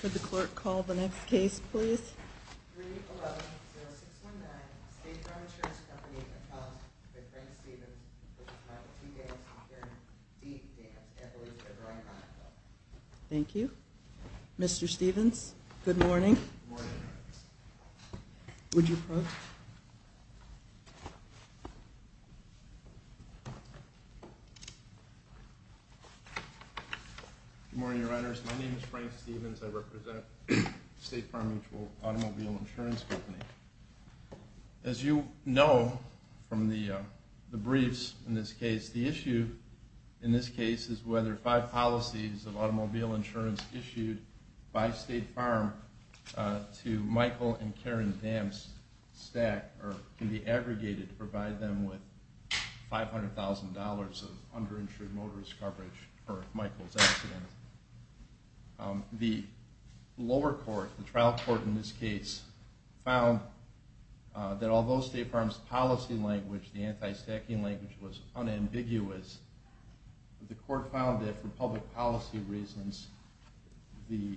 Could the clerk call the next case please? Thank you. Mr. Stephens, good morning. Would you approach? Good morning, your honors. My name is Frank Stephens. I represent State Farm Mutual Automobile Insurance Company. As you know from the briefs in this case, the issue in this case is whether five policies of automobile insurance issued by State Farm to Michael and Karen Damptz can be aggregated to provide them with $500,000 of underinsured motorist coverage for Michael's accident. The lower court, the trial court in this case, found that although State Farm's policy language, the anti-stacking language, was unambiguous, the court found that for public policy reasons, the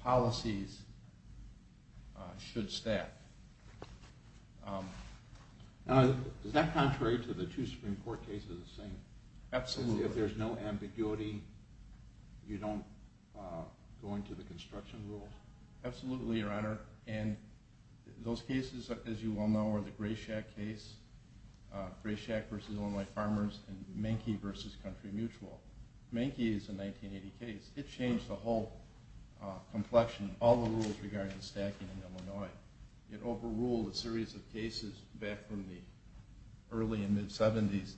policies should stack. Is that contrary to the two Supreme Court cases? Absolutely. If there's no ambiguity, you don't go into the construction rules? Absolutely, your honor. And those cases, as you well know, are the Grayshack case, Grayshack v. Illinois Farmers, and Mankey v. Country Mutual. Mankey is a 1980 case. It changed the whole complexion, all the rules regarding stacking in Illinois. It overruled a series of cases back from the early and mid-'70s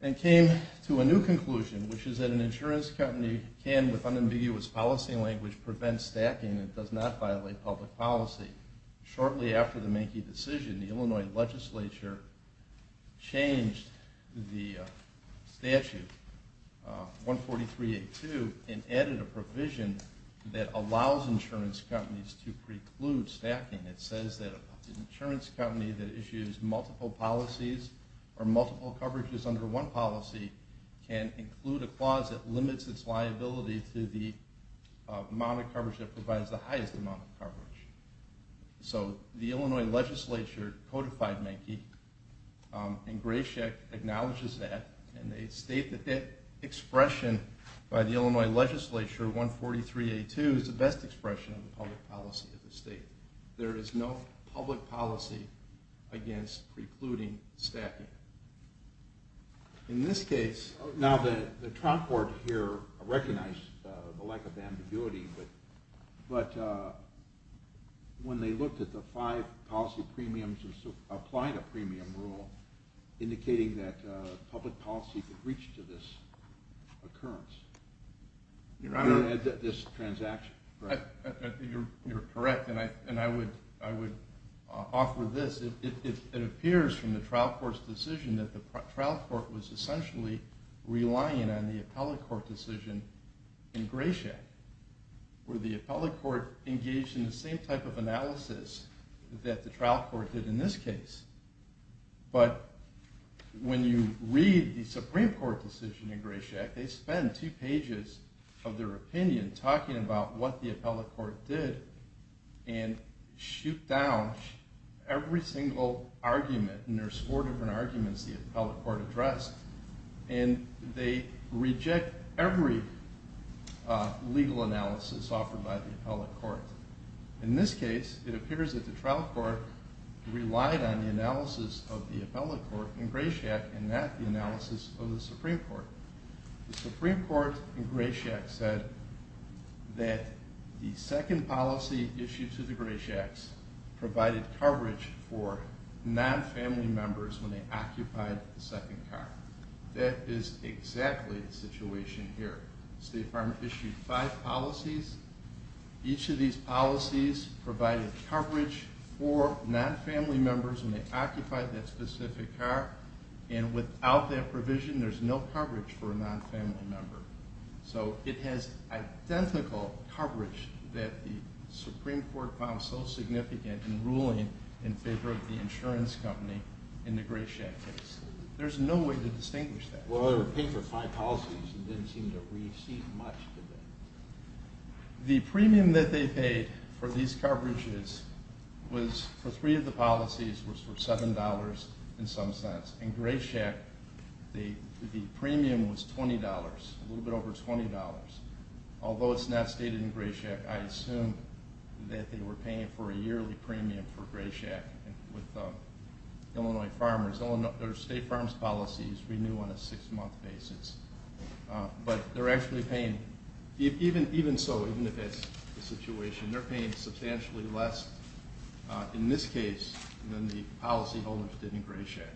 and came to a new conclusion, which is that an insurance company can, with unambiguous policy language, prevent stacking and does not violate public policy. Shortly after the Mankey decision, the Illinois legislature changed the statute, 14382, and added a provision that allows insurance companies to preclude stacking. It says that an insurance company that issues multiple policies or multiple coverages under one policy can include a clause that limits its liability to the amount of coverage that provides the highest amount of coverage. So the Illinois legislature codified Mankey, and Grayshack acknowledges that, and they state that that expression by the Illinois legislature, 14382, is the best expression of the public policy of the state. There is no public policy against precluding stacking. In this case, now the trial court here recognized the lack of ambiguity, but when they looked at the five policy premiums that applied a premium rule, indicating that public policy could reach to this occurrence, this transaction. You're correct, and I would offer this. It appears from the trial court's decision that the trial court was essentially relying on the appellate court decision in Grayshack, where the appellate court engaged in the same type of analysis that the trial court did in this case. But when you read the Supreme Court decision in Grayshack, they spend two pages of their opinion talking about what the appellate court did and shoot down every single argument, and there's four different arguments the appellate court addressed, and they reject every legal analysis offered by the appellate court. In this case, it appears that the trial court relied on the analysis of the appellate court in Grayshack and not the analysis of the Supreme Court. The Supreme Court in Grayshack said that the second policy issued to the Grayshacks provided coverage for non-family members when they occupied the second car. That is exactly the situation here. The State Department issued five policies. Each of these policies provided coverage for non-family members when they occupied that specific car, and without that provision, there's no coverage for a non-family member. So it has identical coverage that the Supreme Court found so significant in ruling in favor of the insurance company in the Grayshack case. There's no way to distinguish that. Well, they were paid for five policies and didn't seem to receive much of it. The premium that they paid for these coverages was for three of the policies was for $7 in some sense. In Grayshack, the premium was $20, a little bit over $20. Although it's not stated in Grayshack, I assume that they were paying for a yearly premium for Grayshack with Illinois farmers. Their state farms policies renew on a six-month basis. But they're actually paying, even so, even if that's the situation, they're paying substantially less in this case than the policyholders did in Grayshack.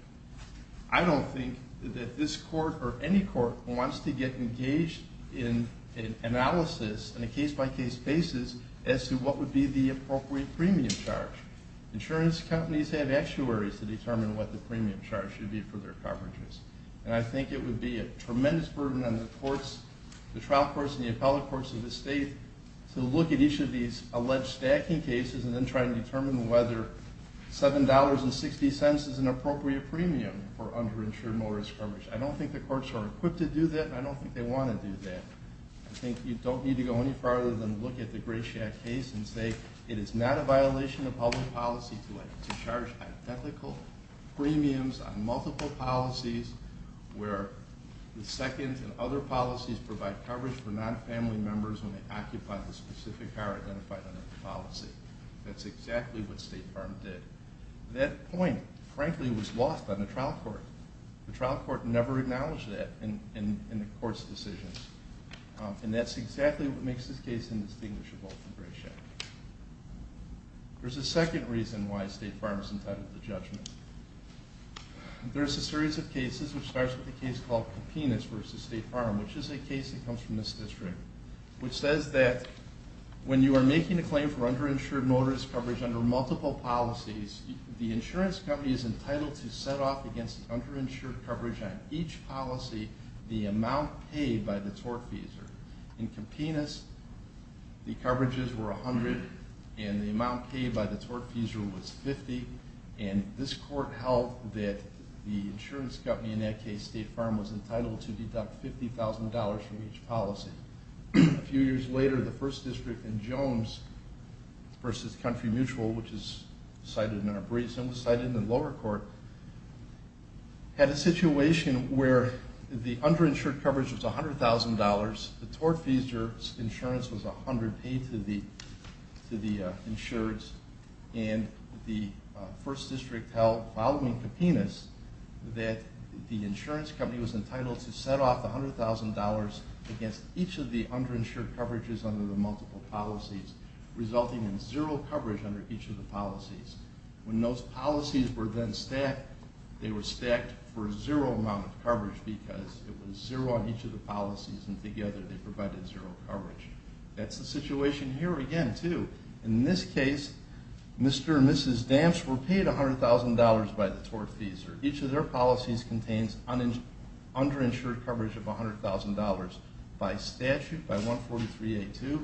I don't think that this court or any court wants to get engaged in an analysis on a case-by-case basis as to what would be the appropriate premium charge. Insurance companies have actuaries to determine what the premium charge should be for their coverages. And I think it would be a tremendous burden on the trial courts and the appellate courts of the state to look at each of these alleged stacking cases and then try to determine whether $7.60 is an appropriate premium for underinsured mower discrimination. I don't think the courts are equipped to do that, and I don't think they want to do that. I think you don't need to go any farther than look at the Grayshack case and say it is not a violation of public policy to charge identical premiums on multiple policies where the second and other policies provide coverage for non-family members when they occupy the specific car identified under the policy. That's exactly what State Farm did. That point, frankly, was lost on the trial court. The trial court never acknowledged that in the court's decisions. And that's exactly what makes this case indistinguishable from Grayshack. There's a second reason why State Farm is entitled to judgment. There's a series of cases, which starts with a case called Copinus v. State Farm, which is a case that comes from this district, which says that when you are making a claim for underinsured mower discoveries under multiple policies, the insurance company is entitled to set off against underinsured coverage on each policy the amount paid by the tortfeasor. In Copinus, the coverages were 100 and the amount paid by the tortfeasor was 50, and this court held that the insurance company in that case, State Farm, was entitled to deduct $50,000 from each policy. A few years later, the first district in Jones v. Country Mutual, which is cited in our briefs and was cited in the lower court, had a situation where the underinsured coverage was $100,000, the tortfeasor's insurance was 100 paid to the insureds, and the first district held, following Copinus, that the insurance company was entitled to set off $100,000 against each of the underinsured coverages under the multiple policies, resulting in zero coverage under each of the policies. When those policies were then stacked, they were stacked for zero amount of coverage because it was zero on each of the policies, and together they provided zero coverage. That's the situation here again, too. In this case, Mr. and Mrs. Damps were paid $100,000 by the tortfeasor. Each of their policies contains underinsured coverage of $100,000. By statute, by 143A2,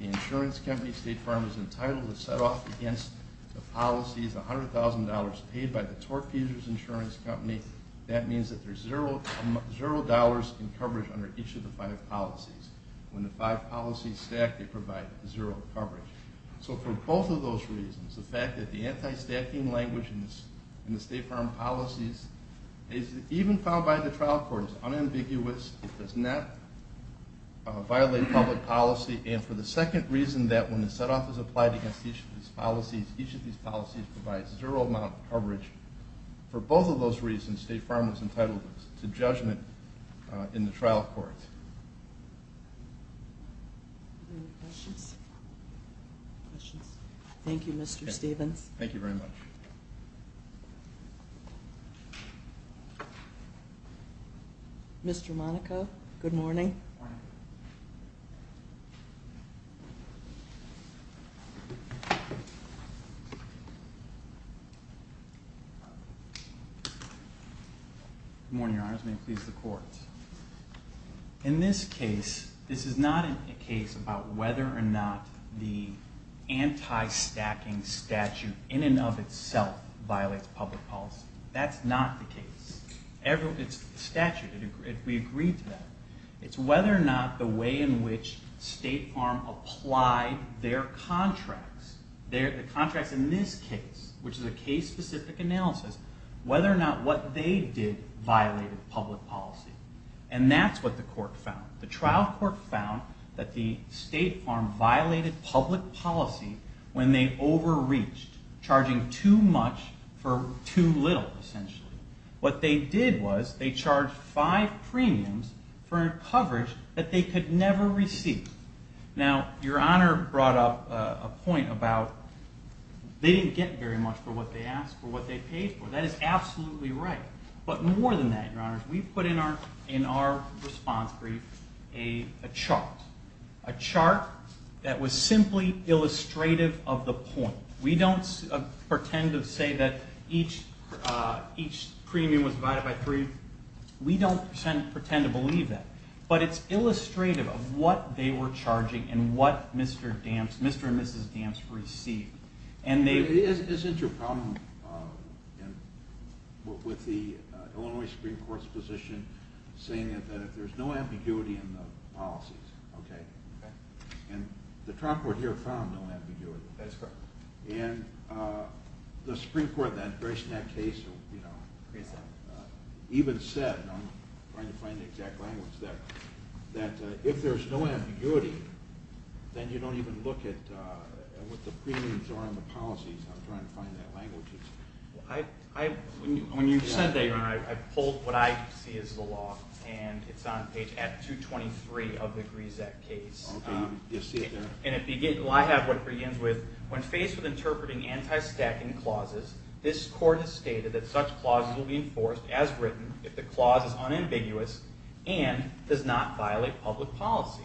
the insurance company, State Farm, was entitled to set off against the policies $100,000 paid by the tortfeasor's insurance company. That means that there's $0 in coverage under each of the five policies. When the five policies stack, they provide zero coverage. So for both of those reasons, the fact that the anti-stacking language in the State Farm policies is even found by the trial court as unambiguous, it does not violate public policy, and for the second reason that when the setoff is applied against each of these policies, each of these policies provides zero amount of coverage, for both of those reasons, State Farm was entitled to judgment in the trial court. Are there any questions? Thank you, Mr. Stevens. Thank you very much. Thank you. Mr. Monaco, good morning. Good morning. Good morning, Your Honors. May it please the Court. In this case, this is not a case about whether or not the anti-stacking statute in and of itself violates public policy. That's not the case. It's the statute. We agreed to that. It's whether or not the way in which State Farm applied their contracts, the contracts in this case, which is a case-specific analysis, whether or not what they did violated public policy. And that's what the court found. The trial court found that the State Farm violated public policy when they overreached, charging too much for too little, essentially. What they did was they charged five premiums for coverage that they could never receive. Now, Your Honor brought up a point about they didn't get very much for what they asked for. That is absolutely right. But more than that, Your Honors, we put in our response brief a chart, a chart that was simply illustrative of the point. We don't pretend to say that each premium was divided by three. We don't pretend to believe that. But it's illustrative of what they were charging and what Mr. and Mrs. Damps received. Isn't your problem with the Illinois Supreme Court's position saying that if there's no ambiguity in the policies, okay? Okay. And the trial court here found no ambiguity. That's correct. And the Supreme Court in that case even said, and I'm trying to find the exact language there, that if there's no ambiguity, then you don't even look at what the premiums are in the policies. I'm trying to find that language. When you said that, Your Honor, I pulled what I see as the law, and it's on page 223 of the Grisak case. Okay. You see it there? And I have what begins with, when faced with interpreting anti-stacking clauses, this court has stated that such clauses will be enforced, as written, if the clause is unambiguous and does not violate public policy.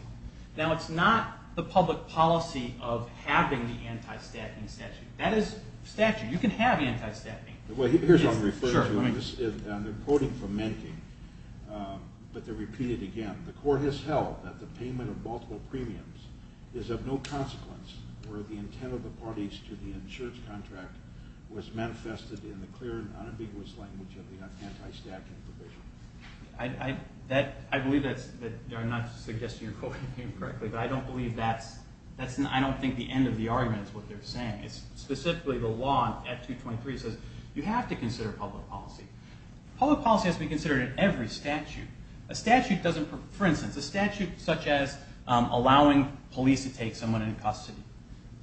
Now, it's not the public policy of having the anti-stacking statute. That is statute. You can have anti-stacking. Well, here's what I'm referring to. I'm quoting from Menke, but to repeat it again, the court has held that the payment of multiple premiums is of no consequence or the intent of the parties to the insurance contract was manifested in the clear and unambiguous language of the anti-stacking provision. I believe that I'm not suggesting you're quoting him correctly, but I don't think the end of the argument is what they're saying. Specifically, the law at 223 says you have to consider public policy. Public policy has to be considered in every statute. For instance, a statute such as allowing police to take someone into custody.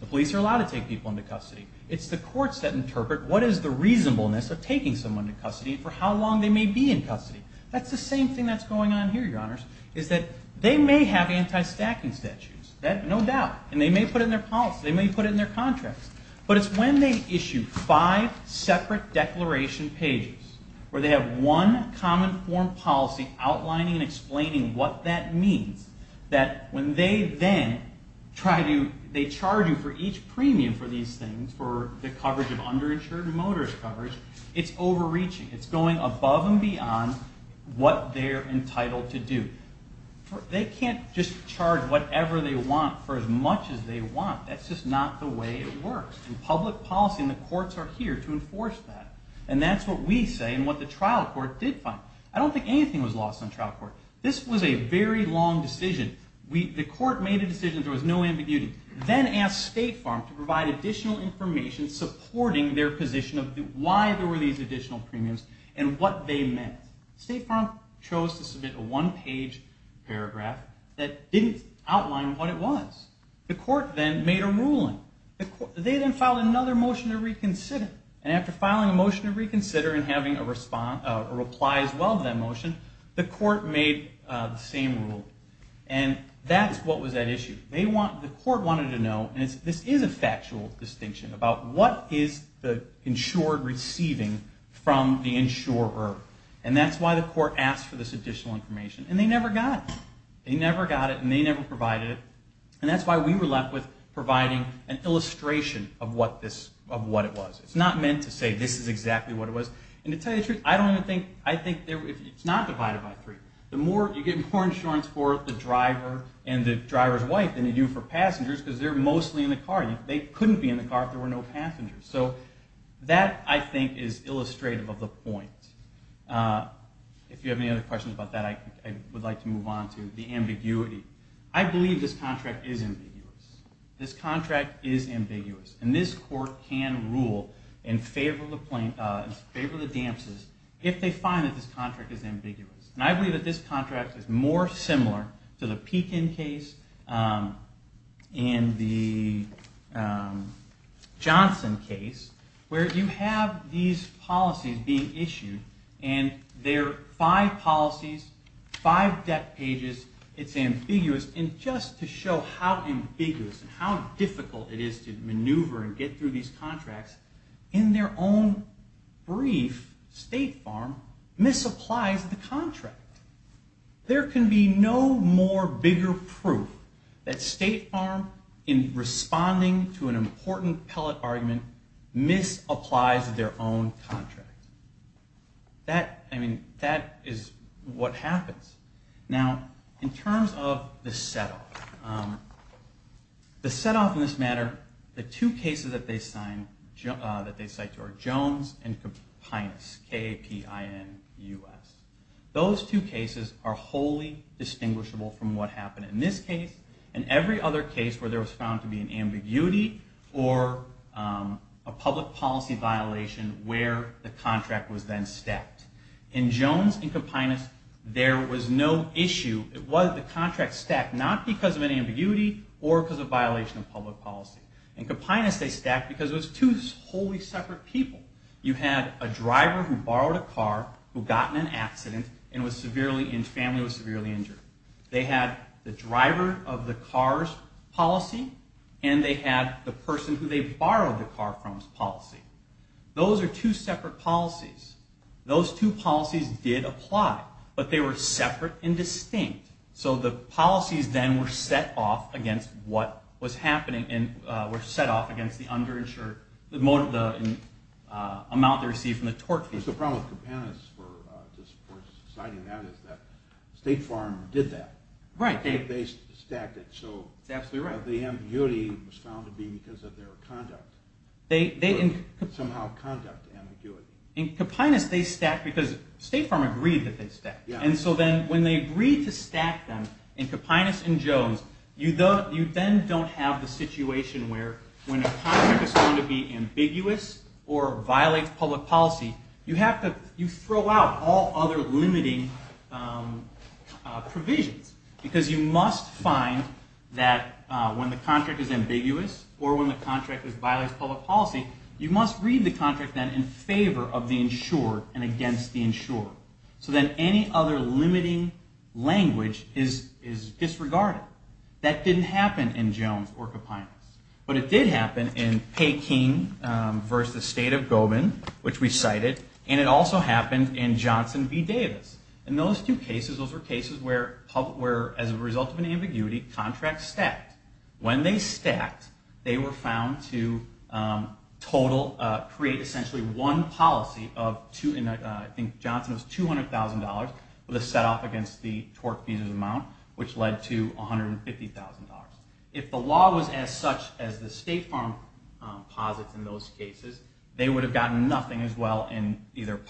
The police are allowed to take people into custody. It's the courts that interpret what is the reasonableness of taking someone into custody for how long they may be in custody. That's the same thing that's going on here, Your Honors, is that they may have anti-stacking statutes, no doubt, and they may put it in their policy. They may put it in their contracts. But it's when they issue five separate declaration pages where they have one common form policy outlining and explaining what that means that when they then charge you for each premium for these things, for the coverage of underinsured and motorist coverage, it's overreaching. It's going above and beyond what they're entitled to do. They can't just charge whatever they want for as much as they want. That's just not the way it works. Public policy and the courts are here to enforce that. And that's what we say and what the trial court did find. I don't think anything was lost on trial court. This was a very long decision. The court made a decision. There was no ambiguity. Then asked State Farm to provide additional information supporting their position of why there were these additional premiums and what they meant. State Farm chose to submit a one-page paragraph that didn't outline what it was. The court then made a ruling. They then filed another motion to reconsider. And after filing a motion to reconsider and having a reply as well to that motion, the court made the same rule. And that's what was at issue. The court wanted to know, and this is a factual distinction, about what is the insured receiving from the insurer. And that's why the court asked for this additional information. And they never got it. They never got it and they never provided it. And that's why we were left with providing an illustration of what it was. It's not meant to say this is exactly what it was. And to tell you the truth, I think it's not divided by three. You get more insurance for the driver and the driver's wife than you do for passengers because they're mostly in the car. They couldn't be in the car if there were no passengers. So that, I think, is illustrative of the point. If you have any other questions about that, I would like to move on to the ambiguity. I believe this contract is ambiguous. This contract is ambiguous. And this court can rule in favor of the damses if they find that this contract is ambiguous. And I believe that this contract is more similar to the Pekin case and the Johnson case where you have these policies being issued. And there are five policies, five debt pages. It's ambiguous. And just to show how ambiguous and how difficult it is to maneuver and get through these contracts, in their own brief, State Farm misapplies the contract. There can be no more bigger proof that State Farm, in responding to an important pellet argument, misapplies their own contract. That is what happens. Now, in terms of the set-off, the set-off in this matter, the two cases that they cite are Jones and Copinus, K-A-P-I-N-U-S. Those two cases are wholly distinguishable from what happened in this case and every other case where there was found to be an ambiguity or a public policy violation where the contract was then stacked. In Jones and Copinus, there was no issue. The contract stacked not because of an ambiguity or because of a violation of public policy. In Copinus, they stacked because it was two wholly separate people. You had a driver who borrowed a car who got in an accident and his family was severely injured. They had the driver of the car's policy and they had the person who they borrowed the car from's policy. Those are two separate policies. Those two policies did apply, but they were separate and distinct. So the policies then were set off against what was happening and were set off against the amount they received from the torque fee. The problem with Copinus for citing that is that State Farm did that. Right. They stacked it. That's absolutely right. So the ambiguity was found to be because of their conduct. Somehow conduct ambiguity. In Copinus, they stacked because State Farm agreed that they stacked. So then when they agreed to stack them in Copinus and Jones, you then don't have the situation where when a contract is found to be ambiguous or violates public policy, you throw out all other limiting provisions because you must find that when the contract is ambiguous or when the contract violates public policy, you must read the contract then in favor of the insured and against the insured. So then any other limiting language is disregarded. That didn't happen in Jones or Copinus. But it did happen in Peking versus State of Gobin, which we cited, and it also happened in Johnson v. Davis. In those two cases, those were cases where, as a result of an ambiguity, contracts stacked. When they stacked, they were found to create essentially one policy of, I think Johnson was $200,000 with a set-off against the tort fees amount, which led to $150,000. If the law was as such as the State Farm posits in those cases, they would have gotten nothing as well in either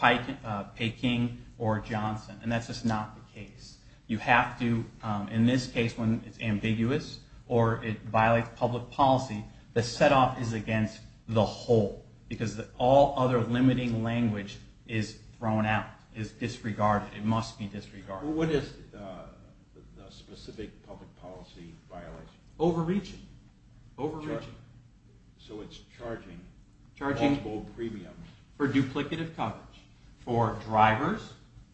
Peking or Johnson, and that's just not the case. You have to, in this case, when it's ambiguous or it violates public policy, the set-off is against the whole because all other limiting language is thrown out, is disregarded. It must be disregarded. What is the specific public policy violation? Overreaching. Overreaching. So it's charging multiple premiums. Charging for duplicative coverage for drivers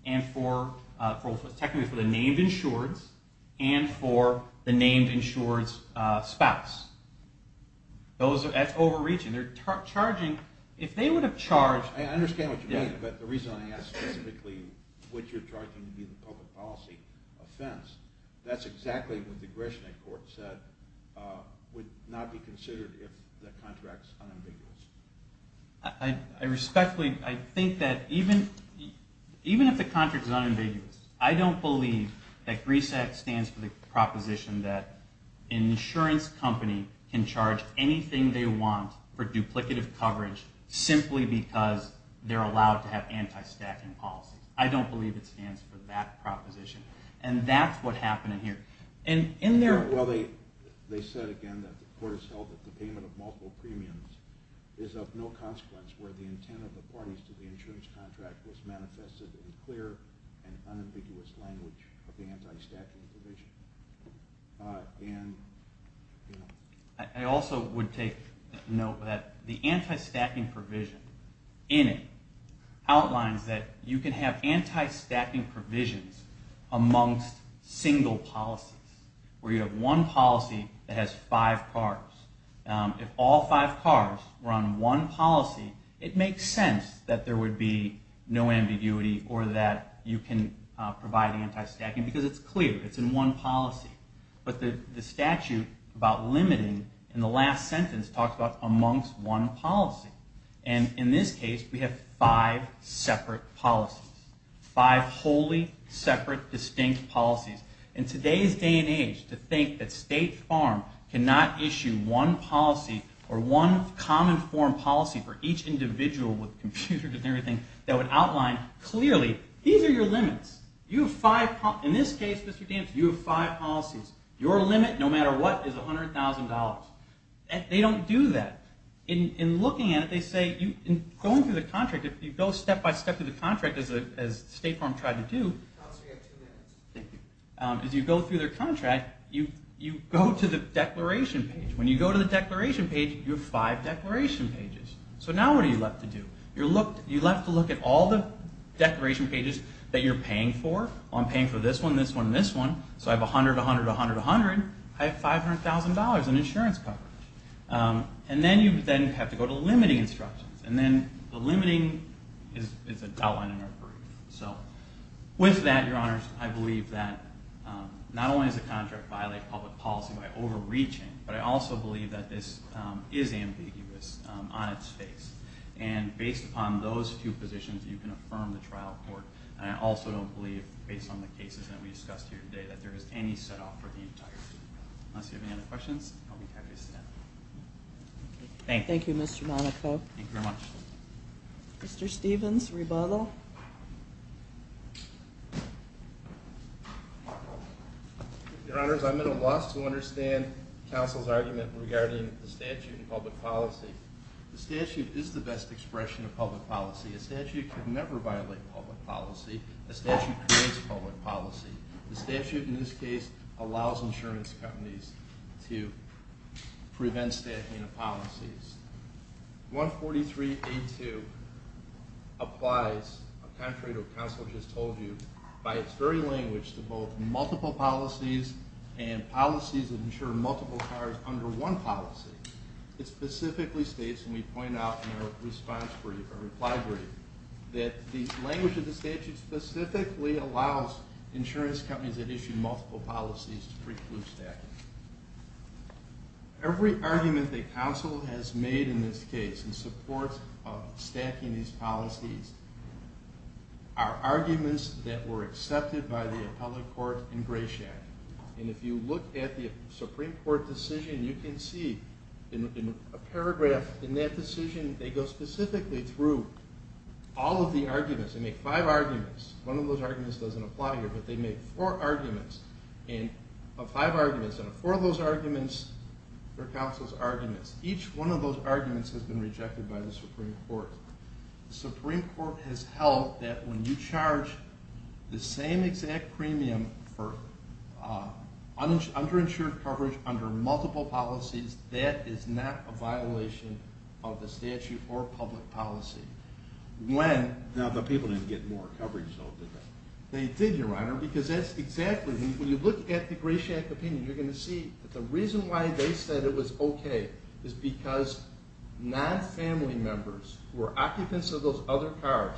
and technically for the named insured and for the named insured's spouse. That's overreaching. If they would have charged... I understand what you mean, but the reason I ask specifically what you're charging to be the public policy offense, that's exactly what the Gresham Court said would not be considered if the contract's unambiguous. I respectfully... I think that even if the contract's unambiguous, I don't believe that GRISAC stands for the proposition that an insurance company can charge anything they want for duplicative coverage simply because they're allowed to have anti-stacking policies. I don't believe it stands for that proposition, and that's what happened in here. And in their... Well, they said, again, that the court has held that the payment of multiple premiums is of no consequence where the intent of the parties to the insurance contract was manifested in clear and unambiguous language of the anti-stacking provision. And... I also would take note that the anti-stacking provision in it outlines that you can have anti-stacking provisions amongst single policies, where you have one policy that has five cars. If all five cars were on one policy, it makes sense that there would be no ambiguity or that you can provide anti-stacking because it's clear, it's in one policy. But the statute about limiting in the last sentence talks about amongst one policy. And in this case, we have five separate policies, five wholly separate distinct policies. In today's day and age, to think that State Farm cannot issue one policy or one common form policy for each individual with computers and everything that would outline clearly, these are your limits. You have five... In this case, Mr. Dantz, you have five policies. Your limit, no matter what, is $100,000. They don't do that. In looking at it, they say... Going through the contract, if you go step by step through the contract as State Farm tried to do... Thank you. As you go through their contract, you go to the declaration page. When you go to the declaration page, you have five declaration pages. So now what are you left to do? You're left to look at all the declaration pages that you're paying for. I'm paying for this one, this one, and this one. So I have $100,000, $100,000, $100,000, $100,000. I have $500,000 in insurance coverage. And then you then have to go to limiting instructions. And then the limiting is outlined in our brief. So with that, Your Honors, I believe that not only does the contract violate public policy by overreaching, but I also believe that this is ambiguous on its face. And based upon those few positions, you can affirm the trial court. And I also don't believe, based on the cases that we discussed here today, that there is any set-off for the entire suit. Unless you have any other questions, I'll be happy to step out. Thank you. Thank you, Mr. Monaco. Thank you very much. Mr. Stevens, rebuttal. Your Honors, I'm at a loss to understand counsel's argument regarding the statute and public policy. The statute is the best expression of public policy. A statute can never violate public policy. A statute prevents public policy. to prevent staffing of policies. 143A2 applies, contrary to what counsel just told you, by its very language, to both multiple policies and policies that insure multiple cars under one policy. It specifically states, and we point out in our response brief, our reply brief, that the language of the statute specifically allows insurance companies that issue multiple policies to preclude staffing. Every argument that counsel has made in this case in support of stacking these policies are arguments that were accepted by the appellate court in Grayshack. And if you look at the Supreme Court decision, you can see in a paragraph in that decision, they go specifically through all of the arguments. They make five arguments. One of those arguments doesn't apply here, but they make four arguments. And of five arguments, out of four of those arguments are counsel's arguments. Each one of those arguments has been rejected by the Supreme Court. The Supreme Court has held that when you charge the same exact premium for underinsured coverage under multiple policies, that is not a violation of the statute or public policy. Now, the people didn't get more coverage, though, did they? They did, Your Honor, because that's exactly... When you look at the Grayshack opinion, you're going to see that the reason why they said it was okay is because non-family members who were occupants of those other cars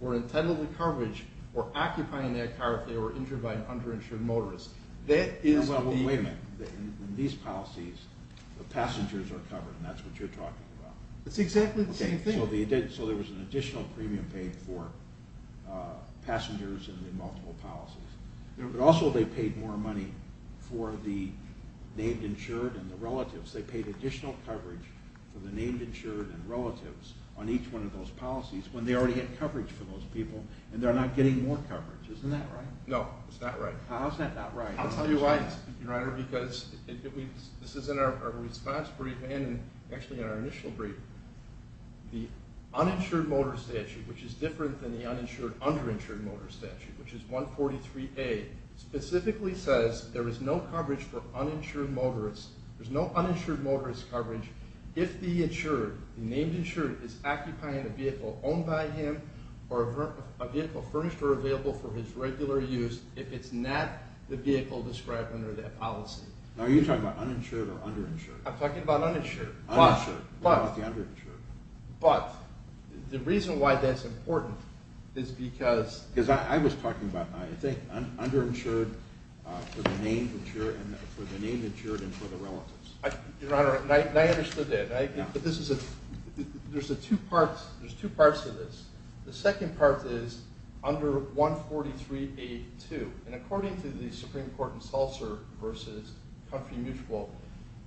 were entitled to coverage or occupying that car if they were injured by an underinsured motorist. That is the... Well, wait a minute. In these policies, the passengers are covered, and that's what you're talking about. It's exactly the same thing. So there was an additional premium paid for passengers in the multiple policies. But also they paid more money for the named insured and the relatives. They paid additional coverage for the named insured and relatives on each one of those policies when they already had coverage for those people, and they're not getting more coverage. Isn't that right? No, it's not right. How is that not right? I'll tell you why, Your Honor, because this is in our response brief and actually in our initial brief. The uninsured motorist statute, which is different than the uninsured underinsured motorist statute, which is 143A, specifically says there is no coverage for uninsured motorists. There's no uninsured motorist coverage if the insured, the named insured, is occupying a vehicle owned by him or a vehicle furnished or available for his regular use if it's not the vehicle described under that policy. Now, are you talking about uninsured or underinsured? I'm talking about uninsured. Uninsured. What about the underinsured? But the reason why that's important is because... Because I was talking about, I think, underinsured for the named insured and for the relatives. Your Honor, and I understood that. There's two parts to this. The second part is under 143A-2, and according to the Supreme Court in Seltzer versus Comfrey Mutual,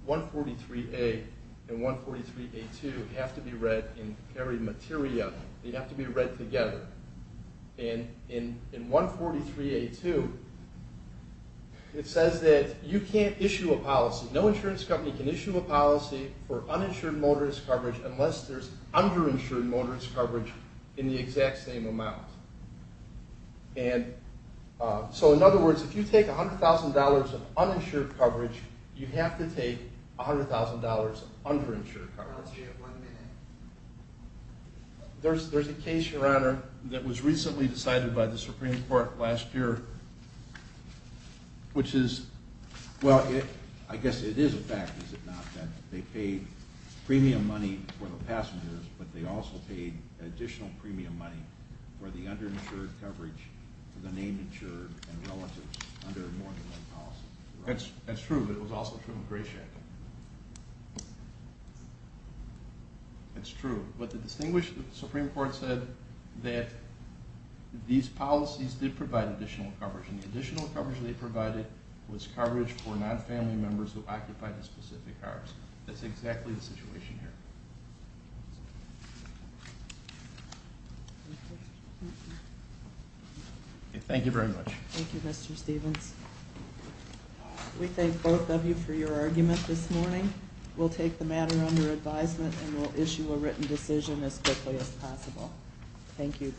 143A and 143A-2 have to be read in every materia. They have to be read together. And in 143A-2, it says that you can't issue a policy. No insurance company can issue a policy for uninsured motorist coverage unless there's underinsured motorist coverage in the exact same amount. And so, in other words, if you take $100,000 of uninsured coverage, you have to take $100,000 of underinsured coverage. There's a case, Your Honor, that was recently decided by the Supreme Court last year, which is... Well, I guess it is a fact, is it not, that they paid premium money for the passengers, but they also paid additional premium money for the underinsured coverage for the named insured and relatives under a mortgage loan policy. That's true, but it was also true in Grayshack. It's true, but the distinguished Supreme Court said that these policies did provide additional coverage, and the additional coverage they provided was coverage for non-family members who occupied the specific cars. That's exactly the situation here. Thank you very much. Thank you, Mr. Stevens. We thank both of you for your argument this morning. We'll take the matter under advisement, and we'll issue a written decision as quickly as possible. Thank you.